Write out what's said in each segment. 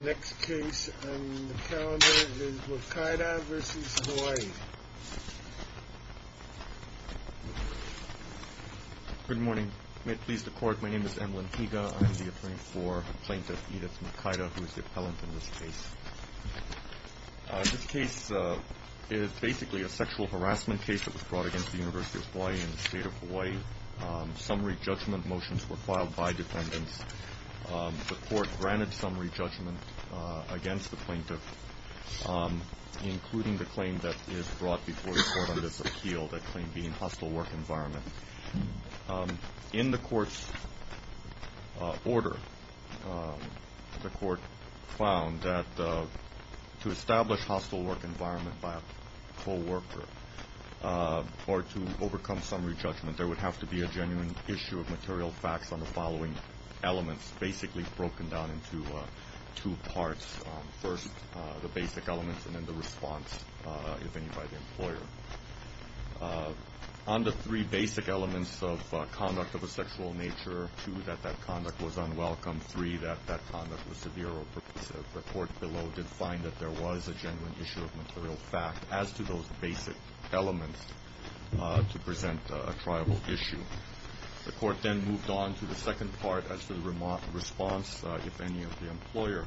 Next case on the calendar is Mukaida v. Hawaii Good morning. May it please the court, my name is Emlyn Higa. I am the attorney for Plaintiff Edith Mukaida, who is the appellant in this case. This case is basically a sexual harassment case that was brought against the University of Hawaii and the State of Hawaii. Summary judgment motions were filed by defendants. The court granted summary judgment against the plaintiff, including the claim that is brought before the court on this appeal, that claim being hostile work environment. In the court's order, the court found that to establish hostile work environment by a co-worker, or to overcome summary judgment, there would have to be a genuine issue of material facts on the following elements, basically broken down into two parts. First, the basic elements, and then the response, if any, by the employer. On the three basic elements of conduct of a sexual nature, two, that that conduct was unwelcome. Three, that that conduct was severe, or the court below did find that there was a genuine issue of material fact as to those basic elements to present a triable issue. The court then moved on to the second part as to the response, if any, of the employer.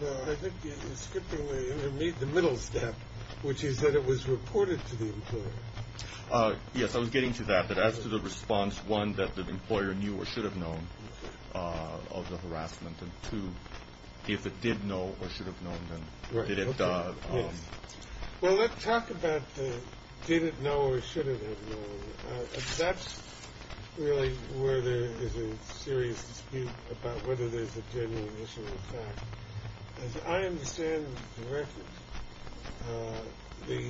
No, I think you're skipping the middle step, which is that it was reported to the employer. Yes, I was getting to that, but as to the response, one, that the employer knew or should have known of the harassment, and two, if it did know or should have known, then did it... Well, let's talk about the did it know or should it have known. That's really where there is a serious dispute about whether there's a genuine issue of fact. As I understand the record, the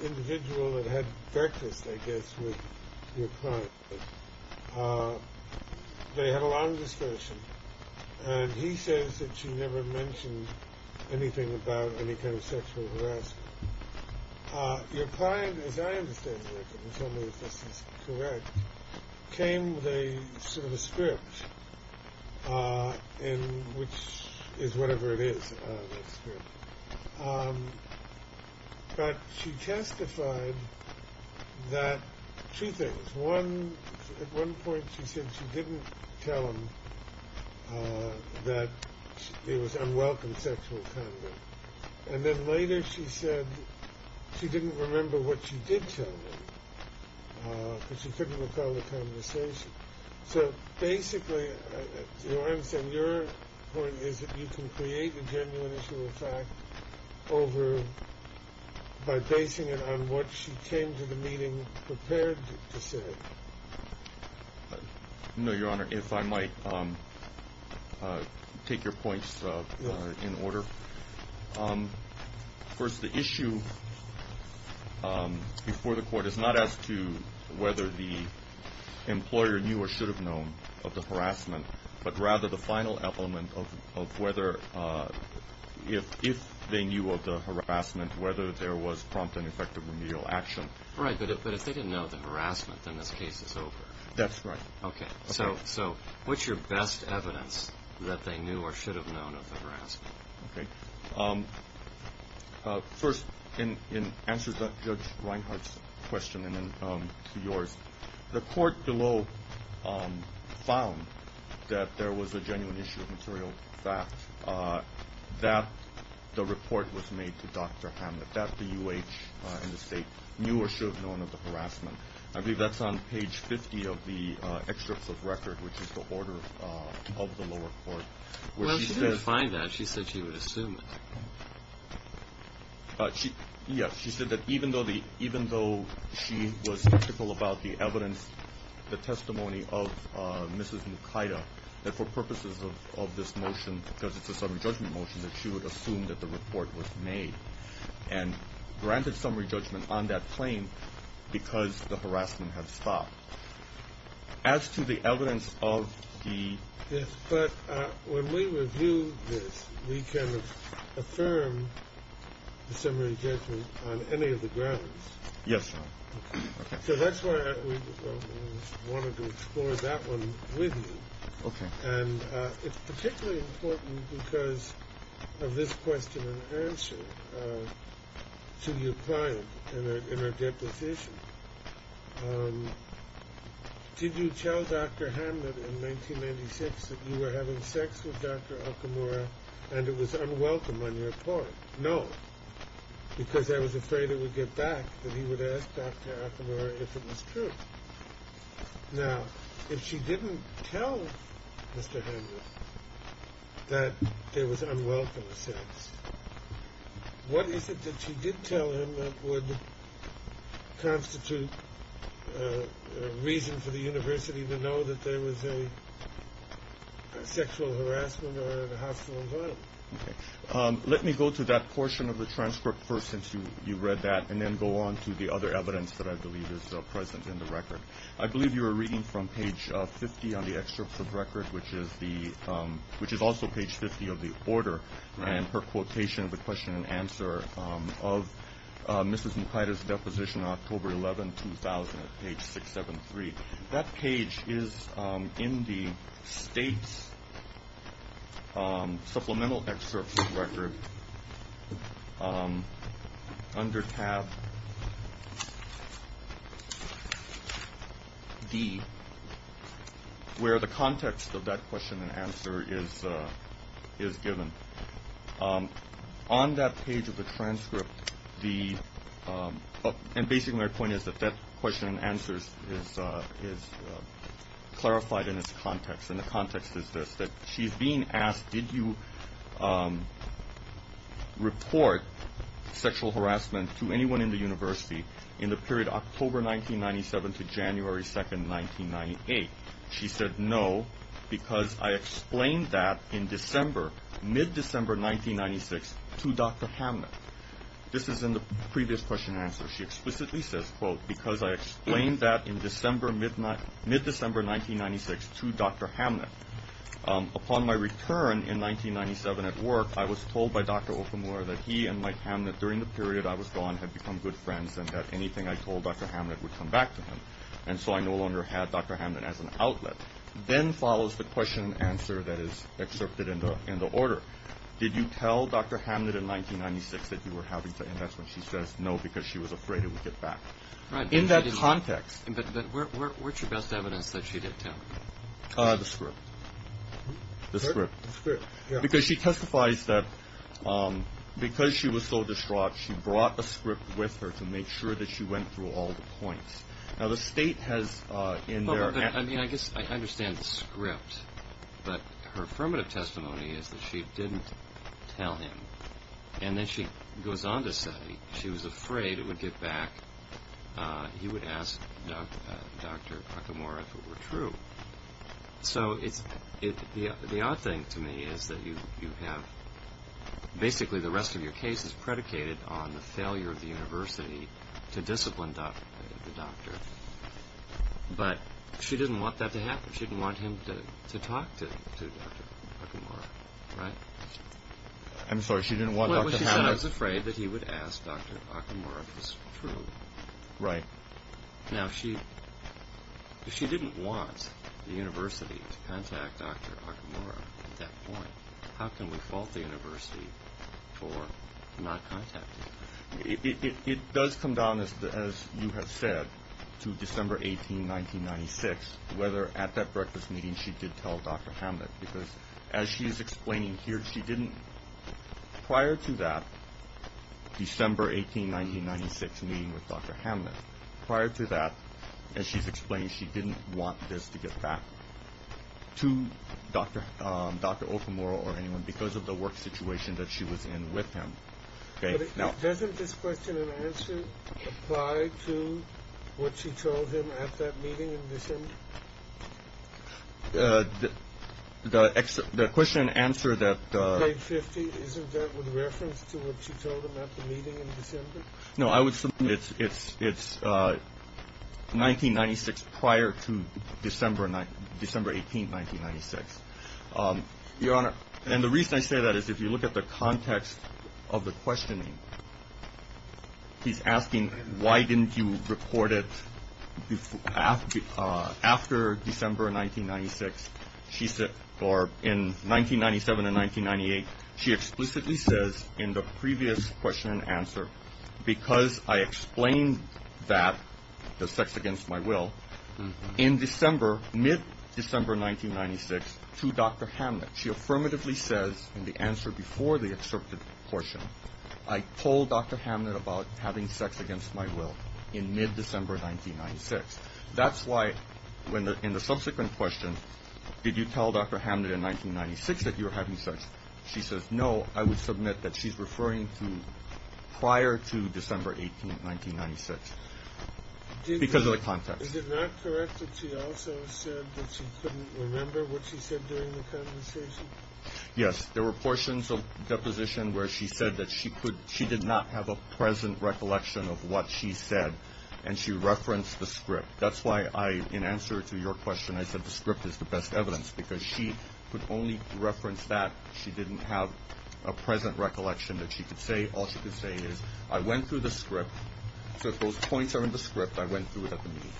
individual that had breakfast, I guess, with your client, they had a long discussion, and he says that she never mentioned anything about any kind of sexual harassment. Your client, as I understand the record, and tell me if this is correct, came with a sort of a script, which is whatever it is, a script. But she testified that two things. One, at one point she said she didn't tell him that it was unwelcome sexual conduct. And then later she said she didn't remember what she did tell him, because she couldn't recall the conversation. So basically, your point is that you can create a genuine issue of fact by basing it on what she came to the meeting prepared to say. No, Your Honor, if I might take your points in order. First, the issue before the court is not as to whether the employer knew or should have known of the harassment, but rather the final element of whether, if they knew of the harassment, whether there was prompt and effective remedial action. Right, but if they didn't know of the harassment, then this case is over. That's right. Okay, so what's your best evidence that they knew or should have known of the harassment? First, in answer to Judge Reinhart's question and then to yours, the court below found that there was a genuine issue of material fact, that the report was made to Dr. Hamlet, that the U.H. and the state knew or should have known of the harassment. I believe that's on page 50 of the excerpts of record, which is the order of the lower court. Well, she didn't find that. She said she would assume it. Yes, she said that even though she was skeptical about the evidence, the testimony of Mrs. Mukaida, that for purposes of this motion, because it's a summary judgment motion, that she would assume that the report was made and granted summary judgment on that claim because the harassment had stopped. As to the evidence of the... Yes, but when we review this, we can affirm the summary judgment on any of the grounds. Yes, Your Honor. So that's why I wanted to explore that one with you. Okay. And it's particularly important because of this question and answer to your client in her deposition. Did you tell Dr. Hamlet in 1996 that you were having sex with Dr. Okamura and it was unwelcome on your part? No, because I was afraid it would get back that he would ask Dr. Okamura if it was true. Now, if she didn't tell Mr. Hamlet that there was unwelcome sex, what is it that she did tell him that would constitute a reason for the university to know that there was a sexual harassment or a hostile environment? Let me go to that portion of the transcript first, since you read that, and then go on to the other evidence that I believe is present in the record. I believe you were reading from page 50 on the excerpt of the record, which is also page 50 of the order, and her quotation of the question and answer of Mrs. Mukaida's deposition on October 11, 2000, at page 673. That page is in the state's supplemental excerpt of the record under tab D, where the context of that question and answer is given. On that page of the transcript, and basically my point is that that question and answer is clarified in its context, and the context is this, that she's being asked, did you report sexual harassment to anyone in the university in the period October 1997 to January 2, 1998? She said, no, because I explained that in December, mid-December 1996 to Dr. Hamlet. This is in the previous question and answer. She explicitly says, quote, because I explained that in December, mid-December 1996 to Dr. Hamlet. Upon my return in 1997 at work, I was told by Dr. Okamura that he and Mike Hamlet during the period I was gone had become good friends, and that anything I told Dr. Hamlet would come back to him. And so I no longer had Dr. Hamlet as an outlet. Then follows the question and answer that is excerpted in the order. Did you tell Dr. Hamlet in 1996 that you were having sex? And that's when she says, no, because she was afraid it would get back. In that context. But what's your best evidence that she did tell? The script. The script. Because she testifies that because she was so distraught, she brought the script with her to make sure that she went through all the points. Now, the state has in their. I mean, I guess I understand the script, but her affirmative testimony is that she didn't tell him. And then she goes on to say she was afraid it would get back. He would ask Dr. Okamura if it were true. So the odd thing to me is that you have basically the rest of your case is predicated on the failure of the university to discipline the doctor. But she didn't want that to happen. She didn't want him to talk to Dr. Okamura, right? I'm sorry. She didn't want Dr. Hamlet. She was afraid that he would ask Dr. Okamura if it was true. Right. Now, if she didn't want the university to contact Dr. Okamura at that point, how can we fault the university for not contacting him? It does come down, as you have said, to December 18, 1996, whether at that breakfast meeting she did tell Dr. Hamlet. Because as she's explaining here, she didn't prior to that December 18, 1996 meeting with Dr. Hamlet. Prior to that, as she's explained, she didn't want this to get back to Dr. Okamura or anyone because of the work situation that she was in with him. Doesn't this question and answer apply to what she told him at that meeting in December? The question and answer that — Page 50. Isn't that with reference to what she told him at the meeting in December? No, I would say it's 1996 prior to December 18, 1996. Your Honor, and the reason I say that is if you look at the context of the questioning, he's asking, why didn't you report it after December 1996? Or in 1997 and 1998, she explicitly says in the previous question and answer, because I explained that, the sex against my will, in December, mid-December 1996, to Dr. Hamlet. She affirmatively says in the answer before the excerpted portion, I told Dr. Hamlet about having sex against my will in mid-December 1996. That's why in the subsequent question, did you tell Dr. Hamlet in 1996 that you were having sex? She says, no, I would submit that she's referring to prior to December 18, 1996, because of the context. Is it not correct that she also said that she couldn't remember what she said during the conversation? Yes, there were portions of deposition where she said that she did not have a present recollection of what she said, and she referenced the script. That's why in answer to your question, I said the script is the best evidence, because she could only reference that she didn't have a present recollection that she could say. All she could say is, I went through the script, so if those points are in the script, I went through it at the meeting.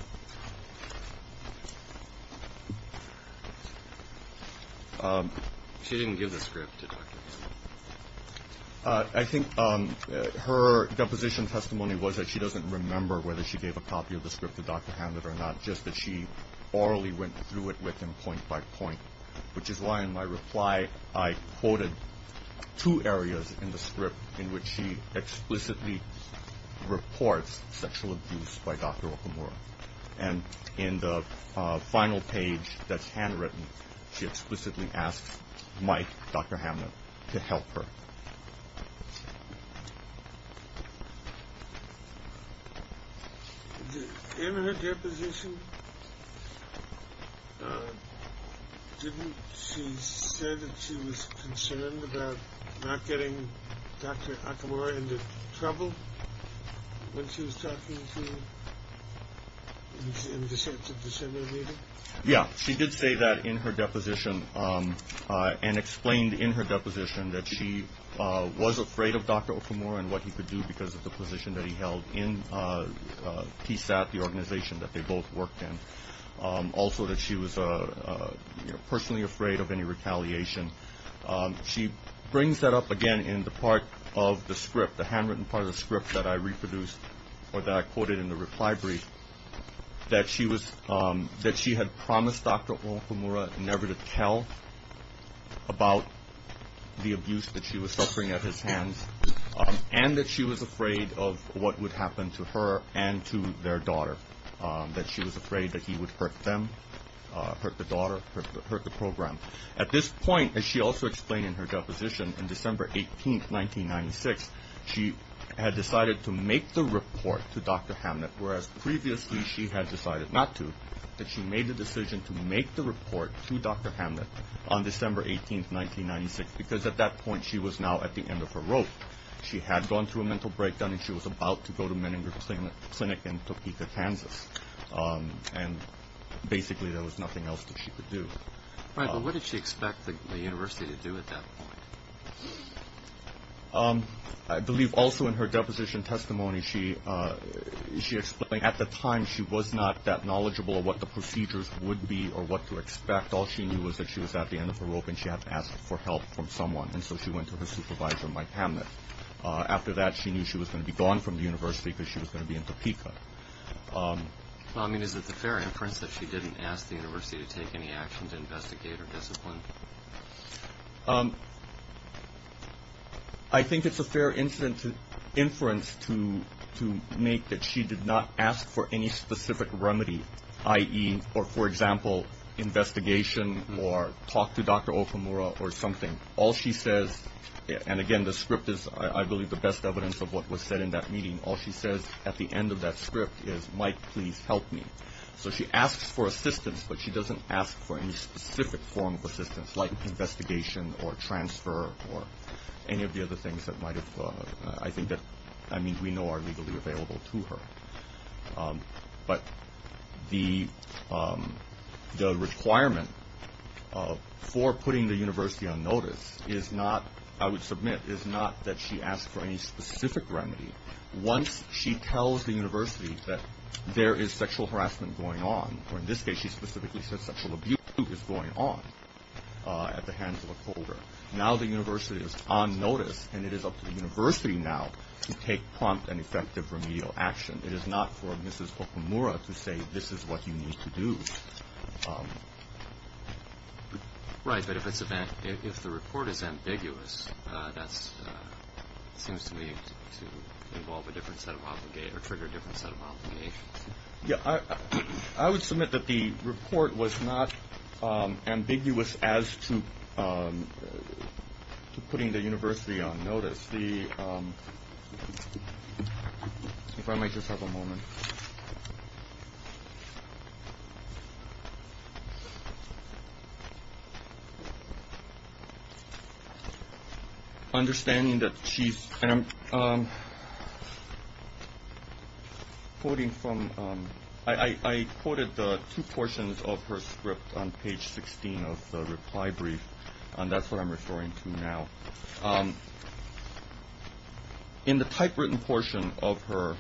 She didn't give the script to Dr. Hamlet. I think her deposition testimony was that she doesn't remember whether she gave a copy of the script to Dr. Hamlet or not, it's just that she orally went through it with him point by point, which is why in my reply I quoted two areas in the script in which she explicitly reports sexual abuse by Dr. Okamura. And in the final page that's handwritten, she explicitly asks Mike, Dr. Hamlet, to help her. In her deposition, didn't she say that she was concerned about not getting Dr. Okamura into trouble when she was talking to him in December meeting? Yeah, she did say that in her deposition and explained in her deposition that she was afraid of Dr. Okamura and what he could do because of the position that he held in PSAT, the organization that they both worked in. Also that she was personally afraid of any retaliation. She brings that up again in the part of the script, the handwritten part of the script that I reproduced, or that I quoted in the reply brief, that she had promised Dr. Okamura never to tell about the abuse that she was suffering at his hands and that she was afraid of what would happen to her and to their daughter, that she was afraid that he would hurt them, hurt the daughter, hurt the program. At this point, as she also explained in her deposition, in December 18, 1996, she had decided to make the report to Dr. Hamlet, whereas previously she had decided not to, but she made the decision to make the report to Dr. Hamlet on December 18, 1996, because at that point she was now at the end of her rope. She had gone through a mental breakdown and she was about to go to Menninger Clinic in Topeka, Kansas. And basically there was nothing else that she could do. Right, but what did she expect the university to do at that point? I believe also in her deposition testimony she explained at the time she was not that knowledgeable of what the procedures would be or what to expect. All she knew was that she was at the end of her rope and she had to ask for help from someone. And so she went to her supervisor, Mike Hamlet. After that she knew she was going to be gone from the university because she was going to be in Topeka. Well, I mean, is it a fair inference that she didn't ask the university to take any action to investigate her discipline? I think it's a fair inference to make that she did not ask for any specific remedy, i.e., for example, investigation or talk to Dr. Okamura or something. All she says, and again the script is I believe the best evidence of what was said in that meeting, all she says at the end of that script is, Mike, please help me. So she asks for assistance, but she doesn't ask for any specific form of assistance like investigation or transfer or any of the other things that might have, I think that, I mean, we know are legally available to her. But the requirement for putting the university on notice is not, I would submit, is not that she asked for any specific remedy. Once she tells the university that there is sexual harassment going on, or in this case she specifically said sexual abuse is going on at the hands of Okamura, now the university is on notice and it is up to the university now to take prompt and effective remedial action. It is not for Mrs. Okamura to say this is what you need to do. Right, but if the report is ambiguous, that seems to me to involve a different set of obligations or trigger a different set of obligations. Yeah, I would submit that the report was not ambiguous as to putting the university on notice. If I might just have a moment. Understanding that she's, and I'm quoting from, I quoted the two portions of her script on page 16 of the reply brief, and that's what I'm referring to now. In the typewritten portion of her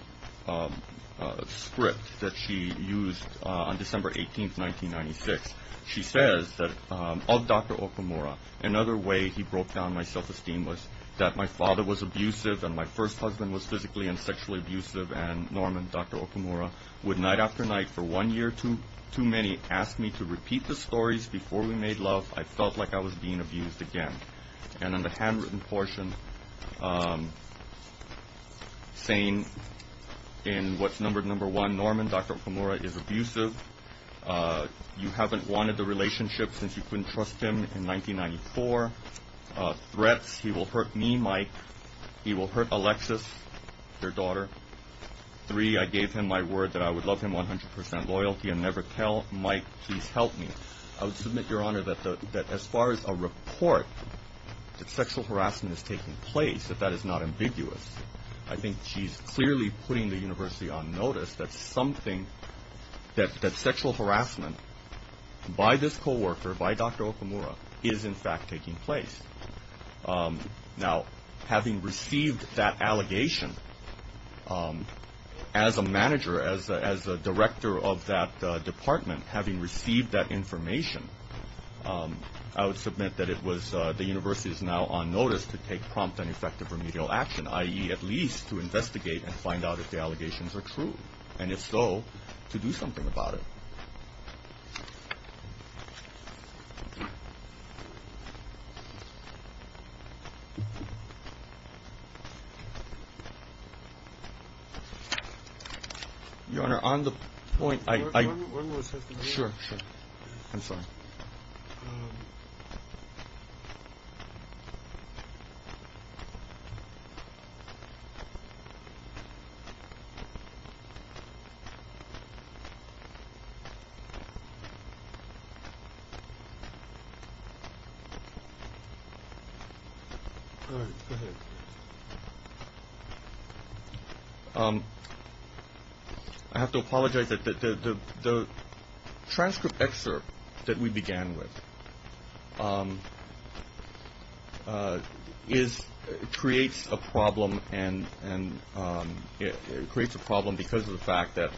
script that she used on December 18, 1996, she says that, of Dr. Okamura, another way he broke down my self-esteem was that my father was abusive and my first husband was physically and sexually abusive, and Norman, Dr. Okamura, would night after night for one year too many ask me to repeat the stories before we made love. I felt like I was being abused again. And in the handwritten portion, saying in what's numbered number one, Norman, Dr. Okamura is abusive. You haven't wanted the relationship since you couldn't trust him in 1994. Threats, he will hurt me, Mike. He will hurt Alexis, your daughter. Three, I gave him my word that I would love him 100% loyalty and never tell. Mike, please help me. I would submit, Your Honor, that as far as a report that sexual harassment is taking place, that that is not ambiguous. I think she's clearly putting the university on notice that something, that sexual harassment by this co-worker, by Dr. Okamura, is in fact taking place. Now, having received that allegation, as a manager, as a director of that department, having received that information, I would submit that it was, the university is now on notice to take prompt and effective remedial action, i.e. at least to investigate and find out if the allegations are true, and if so, to do something about it. Your Honor, on the point, I, I, sure, sure. I'm sorry. Go ahead. I have to apologize that the transcript excerpt that we began with is, creates a problem, and it creates a problem because of the fact that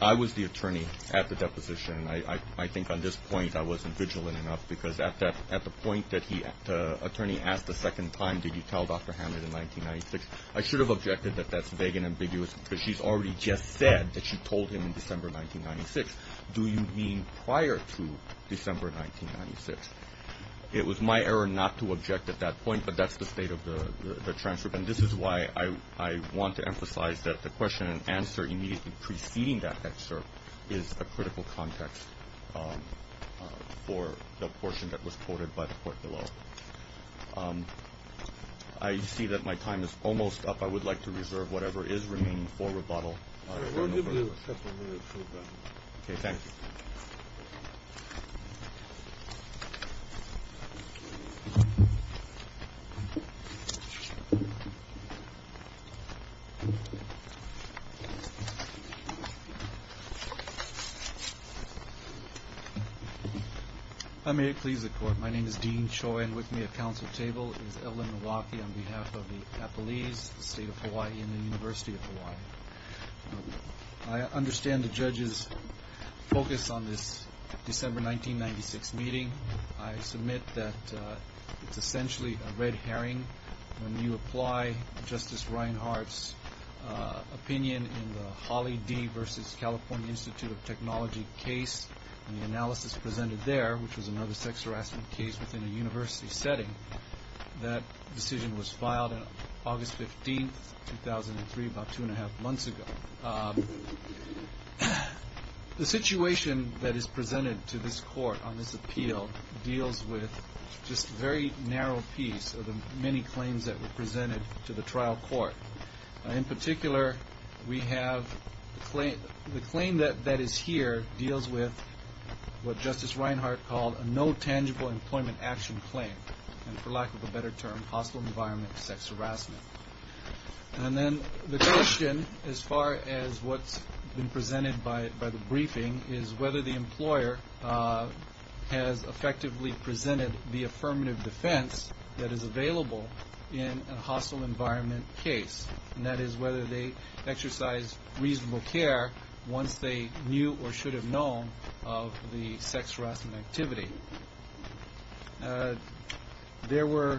I was the attorney at the deposition. And I, I, I think on this point I wasn't vigilant enough because at that, at the point that he, the attorney asked a second time, did you tell Dr. Hammond in 1996? I should have objected that that's vague and ambiguous because she's already just said that she told him in December 1996. Do you mean prior to December 1996? It was my error not to object at that point, but that's the state of the, the transcript. And this is why I, I want to emphasize that the question and answer immediately preceding that excerpt is a critical context for the portion that was quoted by the court below. I see that my time is almost up. I would like to reserve whatever is remaining for rebuttal. We'll give you a couple minutes. Okay, thank you. If I may please the court. My name is Dean Choi and with me at council table is Evelyn Milwaukee on behalf of the Apalis, the state of Hawaii and the University of Hawaii. I understand the judge's focus on this December 1996 meeting. I submit that it's essentially a red herring. When you apply Justice Reinhart's opinion in the Holly D. Institute of Technology case and the analysis presented there, which was another sex harassment case within a university setting, that decision was filed on August 15th, 2003, about two and a half months ago. The situation that is presented to this court on this appeal deals with just very narrow piece of the many claims that were presented to the trial court. In particular, we have the claim that is here deals with what Justice Reinhart called a no tangible employment action claim. And for lack of a better term, hostile environment sex harassment. And then the question, as far as what's been presented by the briefing, is whether the employer has effectively presented the affirmative defense that is available in a hostile environment case. And that is whether they exercise reasonable care once they knew or should have known of the sex harassment activity. There were,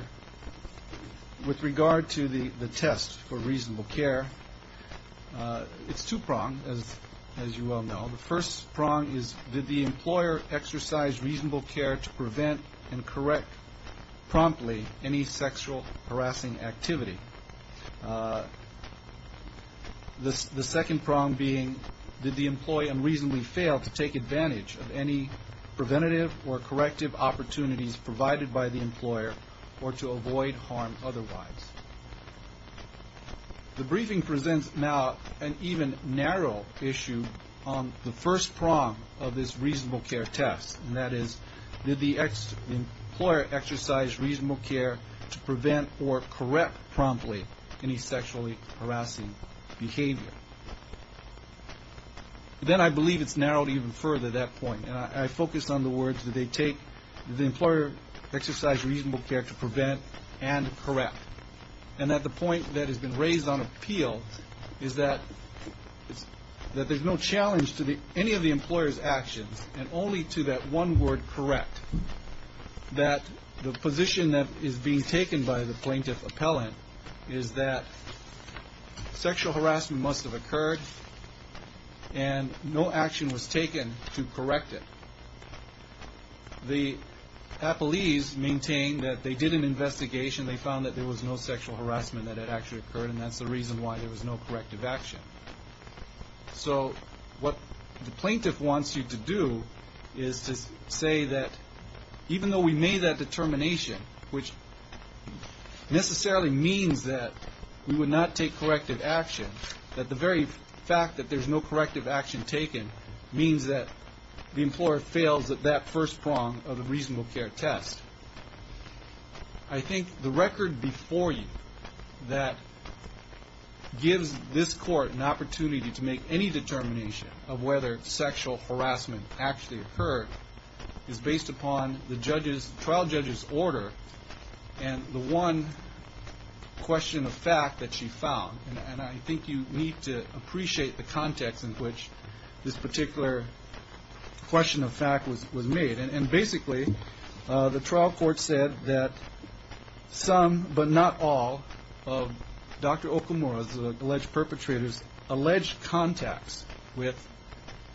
with regard to the test for reasonable care, it's two pronged, as you all know. The first prong is, did the employer exercise reasonable care to prevent and correct promptly any sexual harassing activity? The second prong being, did the employee unreasonably fail to take advantage of any preventative or corrective opportunities provided by the employer or to avoid harm otherwise? The briefing presents now an even narrow issue on the first prong of this reasonable care test. And that is, did the employer exercise reasonable care to prevent or correct promptly any sexually harassing behavior? Then I believe it's narrowed even further at that point. And I focus on the words, did the employer exercise reasonable care to prevent and correct? And that the point that has been raised on appeal is that there's no challenge to any of the employer's actions and only to that one word, correct. That the position that is being taken by the plaintiff appellant is that sexual harassment must have occurred and no action was taken to correct it. The appellees maintain that they did an investigation. They found that there was no sexual harassment that had actually occurred. And that's the reason why there was no corrective action. So what the plaintiff wants you to do is to say that even though we made that determination, which necessarily means that we would not take corrective action, that the very fact that there's no corrective action taken means that the employer fails at that first prong of the reasonable care test. I think the record before you that gives this court an opportunity to make any determination of whether sexual harassment actually occurred is based upon the trial judge's order and the one question of fact that she found. And I think you need to appreciate the context in which this particular question of fact was made. And basically the trial court said that some, but not all, of Dr. Okamura's alleged perpetrators, alleged contacts with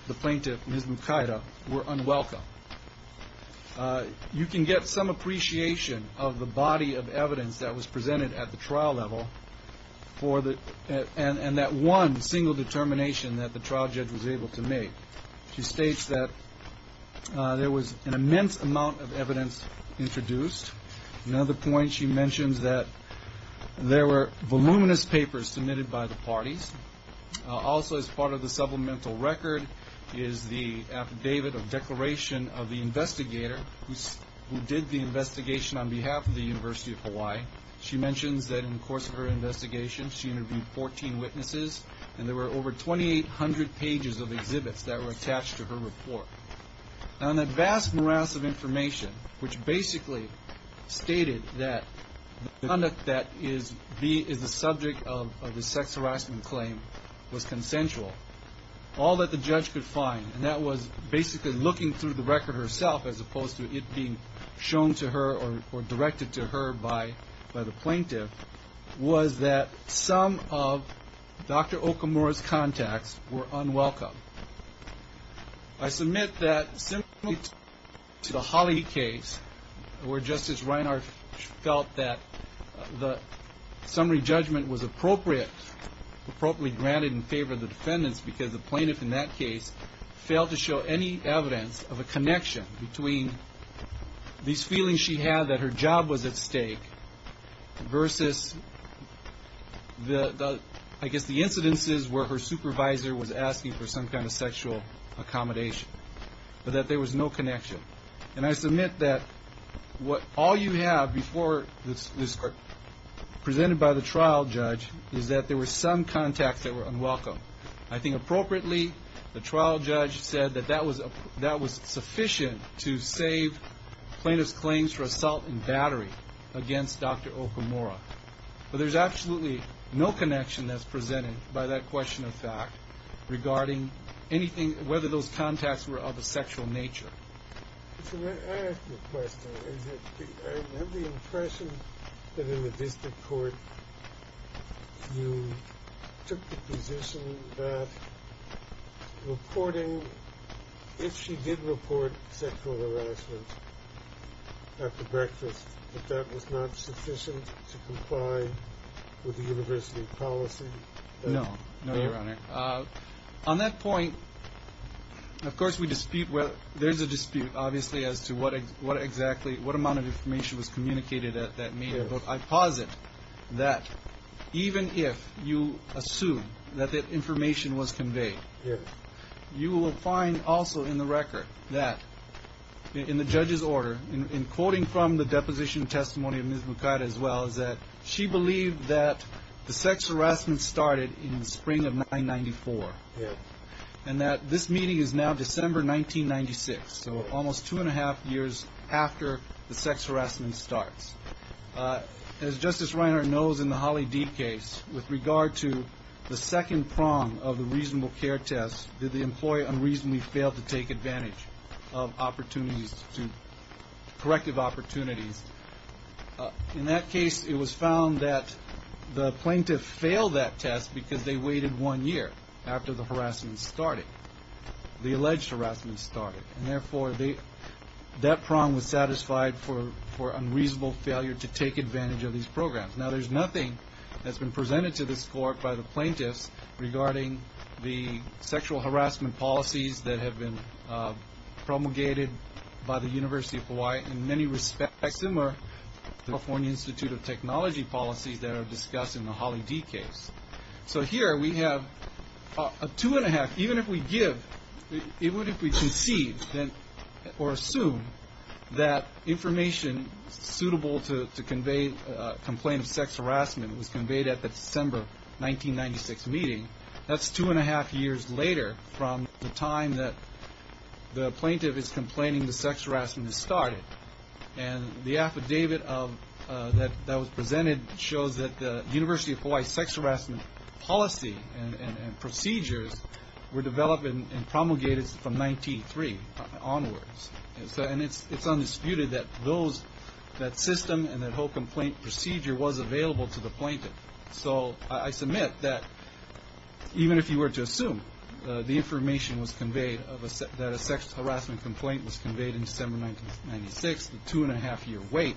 the plaintiff, Ms. Mukaida, were unwelcome. You can get some appreciation of the body of evidence that was presented at the trial level and that one single determination that the trial judge was able to make. She states that there was an immense amount of evidence introduced. Another point she mentions that there were voluminous papers submitted by the parties. Also as part of the supplemental record is the affidavit of declaration of the investigator who did the investigation on behalf of the University of Hawaii. She mentions that in the course of her investigation she interviewed 14 witnesses and there were over 2,800 pages of exhibits that were attached to her report. Now in that vast morass of information which basically stated that the conduct that is the subject of the sex harassment claim was consensual, all that the judge could find, and that was basically looking through the record herself as opposed to it being shown to her or directed to her by the plaintiff, was that some of Dr. Okamura's contacts were unwelcome. I submit that simply to the Hawley case where Justice Reinhart felt that the summary judgment was appropriate, appropriately granted in favor of the defendants because the plaintiff in that case failed to show any evidence of a connection between these feelings she had that her job was at stake versus I guess the incidences where her supervisor was asking for some kind of sexual accommodation, but that there was no connection. And I submit that all you have before this court presented by the trial judge is that there were some contacts that were unwelcome. I think appropriately the trial judge said that that was sufficient to save plaintiff's claims for assault and battery against Dr. Okamura, but there's absolutely no connection that's presented by that question of fact regarding anything, whether those contacts were of a sexual nature. I have a question. I have the impression that in the district court you took the position that reporting, if she did report sexual harassment at the breakfast, that that was not sufficient to comply with the university policy? No, no, Your Honor. On that point, of course we dispute, there's a dispute obviously as to what exactly, what amount of information was communicated at that meeting, but I posit that even if you assume that that information was conveyed, you will find also in the record that in the judge's order, in quoting from the deposition testimony of Ms. Bukata as well, is that she believed that the sex harassment started in the spring of 1994 and that this meeting is now December 1996, so almost two and a half years after the sex harassment starts. As Justice Reiner knows in the Holly D case, with regard to the second prong of the reasonable care test, did the employee unreasonably fail to take advantage of opportunities to, corrective opportunities, in that case it was found that the plaintiff failed that test because they waited one year after the harassment started, the alleged harassment started, and therefore that prong was satisfied for unreasonable failure to take advantage of these programs. Now, there's nothing that's been presented to this court by the plaintiffs regarding the sexual harassment policies that have been promulgated by the University of Hawaii in many respects similar to the California Institute of Technology policies that are discussed in the Holly D case. So here we have a two and a half, even if we give, even if we concede or assume that information suitable to convey complaint of sex harassment was conveyed at the December 1996 meeting, that's two and a half years later from the time that the plaintiff is complaining the sex harassment has started. And the affidavit that was presented shows that the University of Hawaii sex harassment policy and procedures were developed and promulgated from 1993 onwards. And it's undisputed that those, that system and that whole complaint procedure was available to the plaintiff. So I submit that even if you were to assume the information was conveyed that a sex harassment complaint was conveyed in December 1996, the two and a half year wait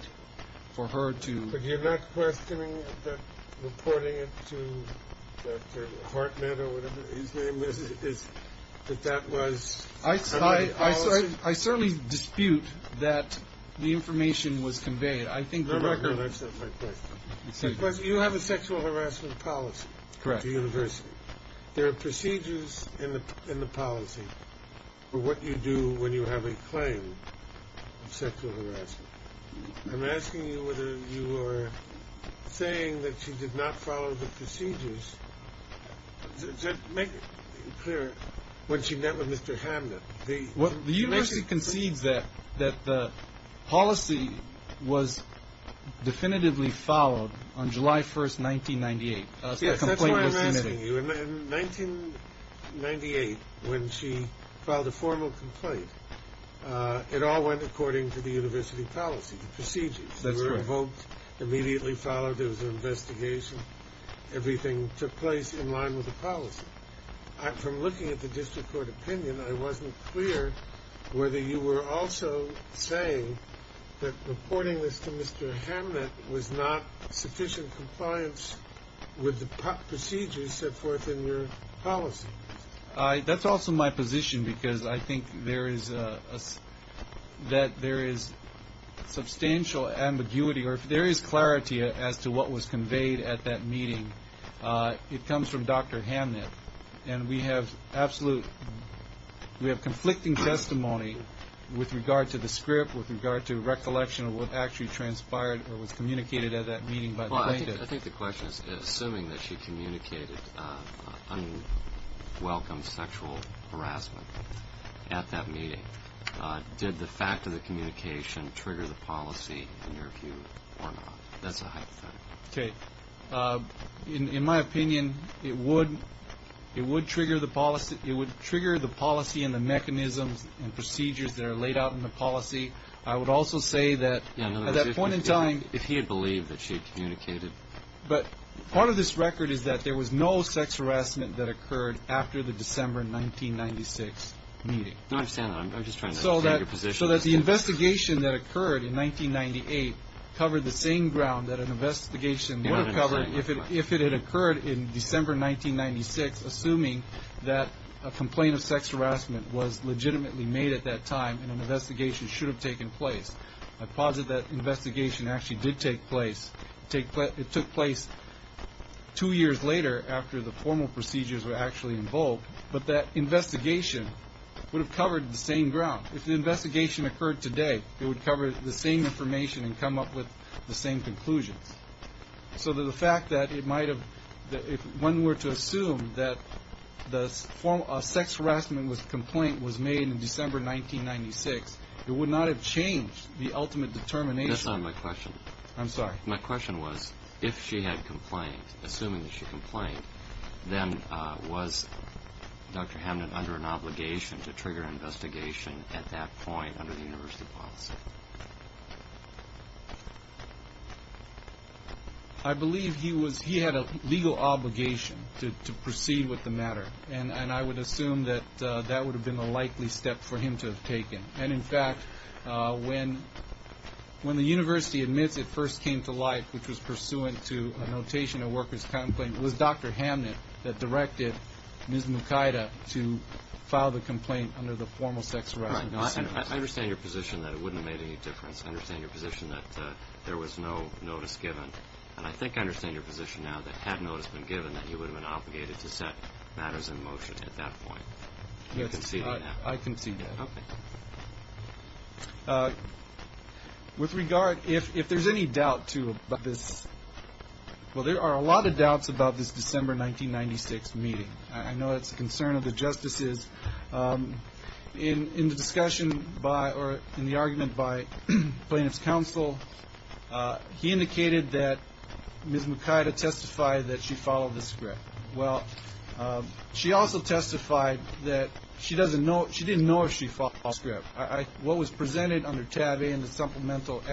for her to... But you're not questioning that reporting it to Dr. Hartnett or whatever his name is, that that was... I certainly dispute that the information was conveyed. I think the record... No, that's not my question. You have a sexual harassment policy. Correct. There are procedures in the policy for what you do when you have a claim of sexual harassment. I'm asking you whether you are saying that she did not follow the procedures. Just make it clear, when she met with Mr. Hamnett, the... Well, the university concedes that the policy was definitively followed on July 1st, 1998. Yes, that's why I'm asking you. In 1998, when she filed a formal complaint, it all went according to the university policy, the procedures. They were invoked, immediately followed, there was an investigation. Everything took place in line with the policy. From looking at the district court opinion, I wasn't clear whether you were also saying that reporting this to Mr. Hamnett was not sufficient compliance with the procedures set forth in your policy. That's also my position, because I think that there is substantial ambiguity, or if there is clarity as to what was conveyed at that meeting, it comes from Dr. Hamnett. And we have conflicting testimony with regard to the script, with regard to recollection of what actually transpired or was communicated at that meeting by the plaintiff. I think the question is, assuming that she communicated unwelcome sexual harassment at that meeting, did the fact of the communication trigger the policy in your view, or not? That's a hypothetical. Okay. In my opinion, it would trigger the policy and the mechanisms and procedures that are laid out in the policy. I would also say that at that point in time... In other words, if he had believed that she had communicated... But part of this record is that there was no sex harassment that occurred after the December 1996 meeting. I understand that. I'm just trying to understand your position. So that the investigation that occurred in 1998 covered the same ground that an investigation would have covered if it had occurred in December 1996, assuming that a complaint of sex harassment was legitimately made at that time and an investigation should have taken place. I posit that investigation actually did take place. It took place two years later after the formal procedures were actually invoked, but that investigation would have covered the same ground. If the investigation occurred today, it would cover the same information and come up with the same conclusions. So the fact that it might have... If one were to assume that a sex harassment complaint was made in December 1996, it would not have changed the ultimate determination. That's not my question. I'm sorry. My question was, if she had complained, assuming that she complained, then was Dr. Hamden under an obligation to trigger an investigation at that point under the university policy? I believe he had a legal obligation to proceed with the matter, and I would assume that that would have been the likely step for him to have taken. And, in fact, when the university admits it first came to light, which was pursuant to a notation of worker's complaint, it was Dr. Hamden that directed Ms. Mukida to file the complaint under the formal sex harassment policy. I understand your position that it wouldn't have made any difference. I understand your position that there was no notice given. And I think I understand your position now that had notice been given, that he would have been obligated to set matters in motion at that point. I can see that. With regard, if there's any doubt, too, about this, well, there are a lot of doubts about this December 1996 meeting. I know it's a concern of the justices. In the discussion by or in the argument by plaintiff's counsel, he indicated that Ms. Mukida testified that she followed the script. Well, she also testified that she doesn't know she didn't know if she followed the script. What was presented under tab A in the supplemental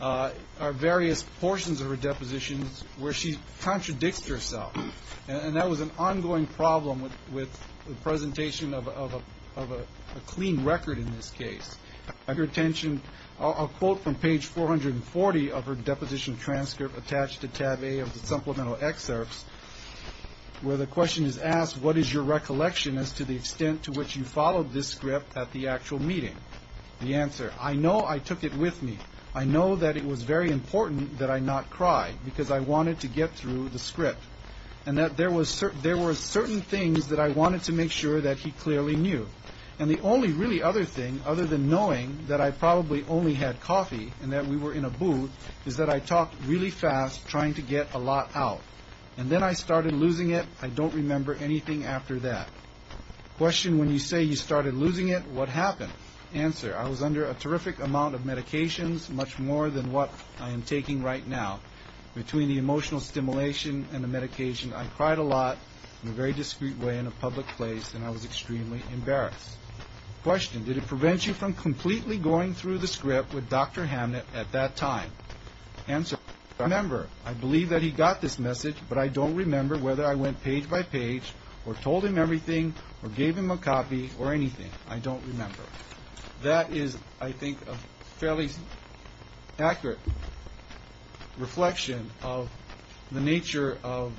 are various portions of her depositions where she contradicts herself. And that was an ongoing problem with the presentation of a clean record in this case. I heard a quote from page 440 of her deposition transcript attached to tab A of the supplemental excerpts where the question is asked, what is your recollection as to the extent to which you followed this script at the actual meeting? The answer, I know I took it with me. I know that it was very important that I not cry because I wanted to get through the script. And that there were certain things that I wanted to make sure that he clearly knew. And the only really other thing, other than knowing that I probably only had coffee and that we were in a booth, is that I talked really fast trying to get a lot out. And then I started losing it. I don't remember anything after that. Question, when you say you started losing it, what happened? Answer, I was under a terrific amount of medications, much more than what I am taking right now. Between the emotional stimulation and the medication, I cried a lot in a very discreet way in a public place. And I was extremely embarrassed. Question, did it prevent you from completely going through the script with Dr. Hamnett at that time? Answer, I remember. I believe that he got this message. But I don't remember whether I went page by page or told him everything or gave him a copy or anything. I don't remember. That is, I think, a fairly accurate reflection of the nature of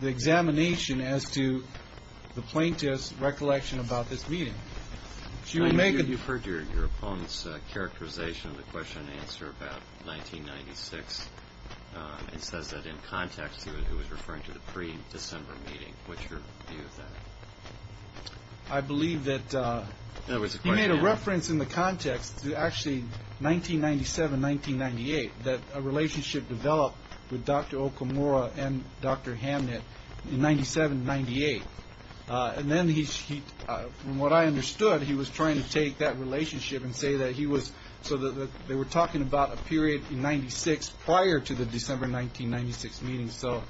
the examination as to the plaintiff's recollection about this meeting. Have you heard your opponent's characterization of the question and answer about 1996? It says that in context he was referring to the pre-December meeting. What's your view of that? I believe that he made a reference in the context to actually 1997, 1998, that a relationship developed with Dr. Okamura and Dr. Hamnett in 1997, 1998. And then he, from what I understood, he was trying to take that relationship and say that he was, so they were talking about a period in 1996 prior to the December 1996 meeting. So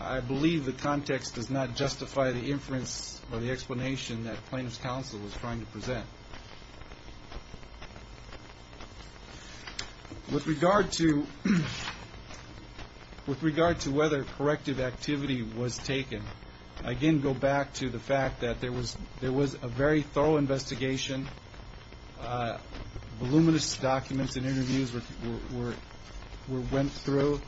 I believe the context does not justify the inference or the explanation that plaintiff's counsel was trying to present. With regard to whether corrective activity was taken, I again go back to the fact that there was a very thorough investigation. Voluminous documents and interviews were went through.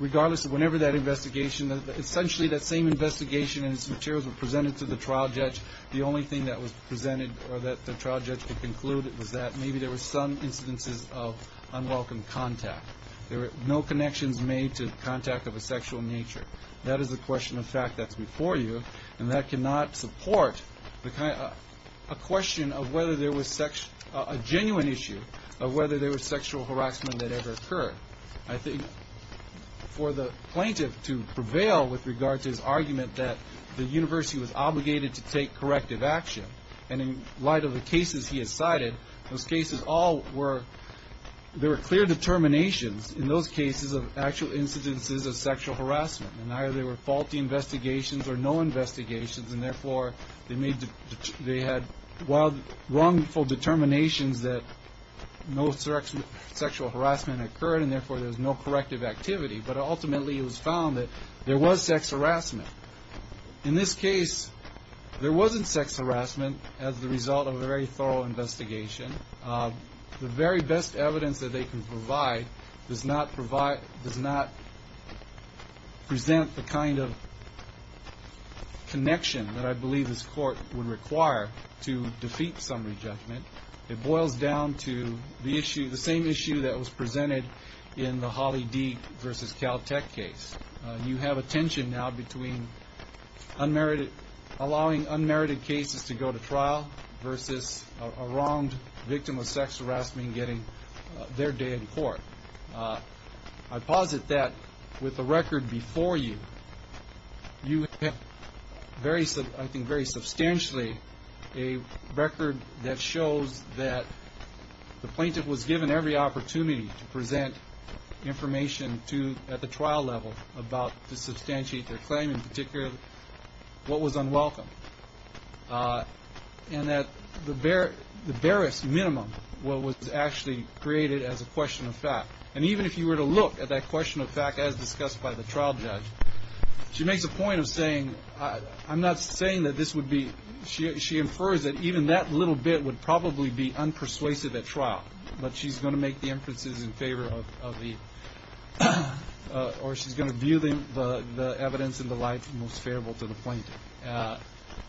Regardless of whenever that investigation, essentially that same investigation and its materials were presented to the trial judge, the only thing that was presented or that the trial judge could conclude was that maybe there were some incidences of unwelcome contact. There were no connections made to contact of a sexual nature. That is a question of fact that's before you, and that cannot support a genuine issue of whether there was sexual harassment that ever occurred. I think for the plaintiff to prevail with regard to his argument that the university was obligated to take corrective action, and in light of the cases he has cited, those cases all were, there were clear determinations in those cases of actual incidences of sexual harassment. And either they were faulty investigations or no investigations, and therefore they had wrongful determinations that no sexual harassment occurred, and therefore there was no corrective activity. But ultimately it was found that there was sex harassment. In this case, there wasn't sex harassment as the result of a very thorough investigation. The very best evidence that they can provide does not present the kind of connection that I believe this court would require to defeat summary judgment. It boils down to the issue, the same issue that was presented in the Holly Deak v. Caltech case. You have a tension now between unmerited, allowing unmerited cases to go to trial versus a wronged victim of sex harassment getting their day in court. I posit that with the record before you, you have, I think very substantially, a record that shows that the plaintiff was given every opportunity to present information at the trial level about to substantiate their claim, in particular what was unwelcome, and that the barest minimum was actually created as a question of fact. And even if you were to look at that question of fact as discussed by the trial judge, she makes a point of saying, I'm not saying that this would be, she infers that even that little bit would probably be unpersuasive at trial, but she's going to make the inferences in favor of the, or she's going to view the evidence in the light most favorable to the plaintiff.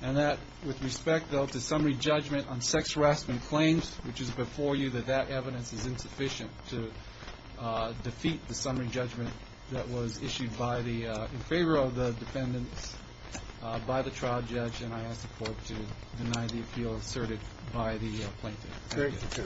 And that, with respect, though, to summary judgment on sex harassment claims, which is before you that that evidence is insufficient to defeat the summary judgment that was issued in favor of the defendants by the trial judge, and I ask the court to deny the appeal asserted by the plaintiff. Thank you.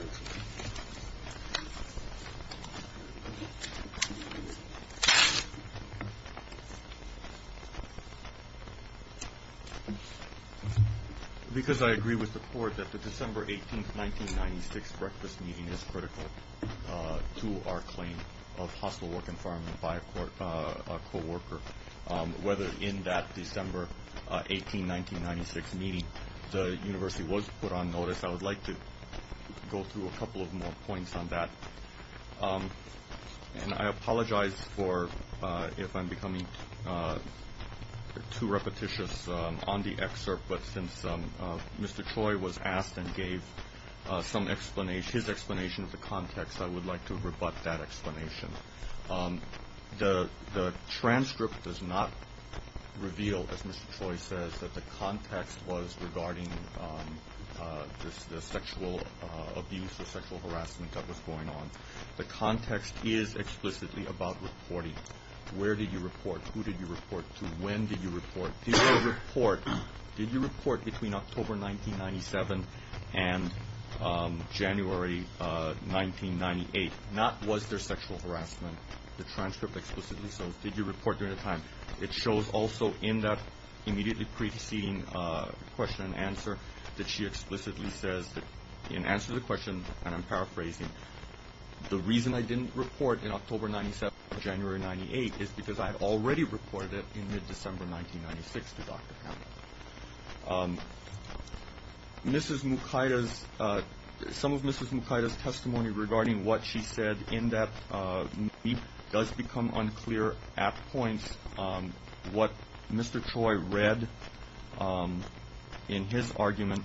Because I agree with the court that the December 18, 1996 breakfast meeting is critical to our claim of hostile work environment, by a co-worker, whether in that December 18, 1996 meeting the university was put on notice, I would like to go through a couple of more points on that. And I apologize for if I'm becoming too repetitious on the excerpt, but since Mr. Choi was asked and gave some explanation, his explanation of the context, I would like to rebut that explanation. The transcript does not reveal, as Mr. Choi says, that the context was regarding the sexual abuse or sexual harassment that was going on. The context is explicitly about reporting. Where did you report? Who did you report to? When did you report? Did you report between October 1997 and January 1998? Not was there sexual harassment. The transcript explicitly says did you report during that time. It shows also in that immediately preceding question and answer that she explicitly says, in answer to the question, and I'm paraphrasing, the reason I didn't report in October 1997 or January 1998 is because I had already reported it in mid-December 1996 to Dr. Campbell. Mrs. Mukaita's, some of Mrs. Mukaita's testimony regarding what she said in that does become unclear at points. What Mr. Choi read in his argument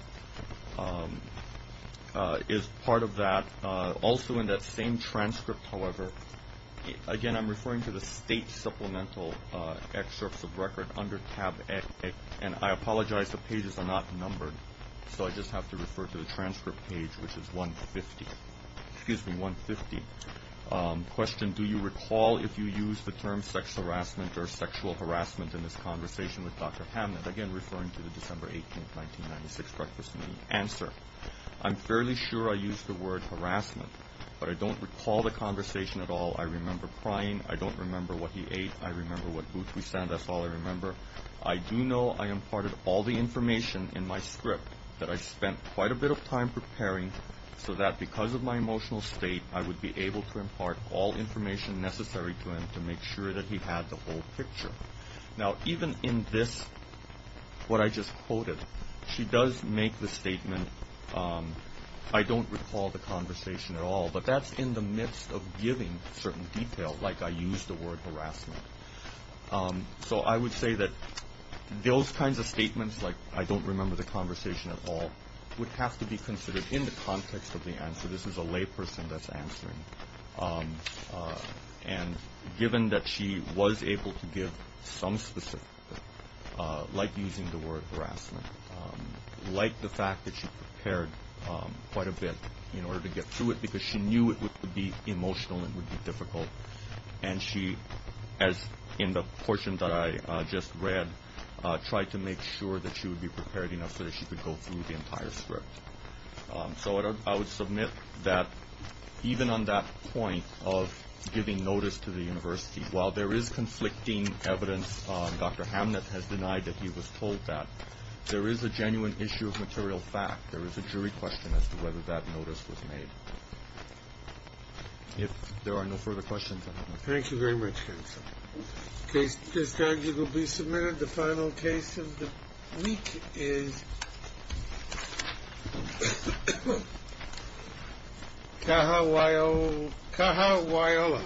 is part of that. Also in that same transcript, however, again, I'm referring to the state supplemental excerpts of record under tab X, and I apologize the pages are not numbered, so I just have to refer to the transcript page, which is 150. Excuse me, 150. Question, do you recall if you used the term sex harassment or sexual harassment in this conversation with Dr. Hammond? Again, referring to the December 18, 1996 breakfast meeting answer. I'm fairly sure I used the word harassment, but I don't recall the conversation at all. I remember crying. I don't remember what he ate. I remember what booth we sat in. That's all I remember. I do know I imparted all the information in my script that I spent quite a bit of time preparing so that because of my emotional state, I would be able to impart all information necessary to him to make sure that he had the whole picture. Now, even in this, what I just quoted, she does make the statement, I don't recall the conversation at all, but that's in the midst of giving certain detail, like I used the word harassment. So I would say that those kinds of statements, like I don't remember the conversation at all, would have to be considered in the context of the answer. This is a layperson that's answering. And given that she was able to give some specific, like using the word harassment, like the fact that she prepared quite a bit in order to get through it because she knew it would be emotional and would be difficult, and she, as in the portion that I just read, tried to make sure that she would be prepared enough so that she could go through the entire script. So I would submit that even on that point of giving notice to the university, while there is conflicting evidence, Dr. Hamnett has denied that he was told that, there is a genuine issue of material fact. There is a jury question as to whether that notice was made. If there are no further questions, I don't know. Thank you very much, counsel. Case is arguably submitted. The final case of the week is Cahawaiola.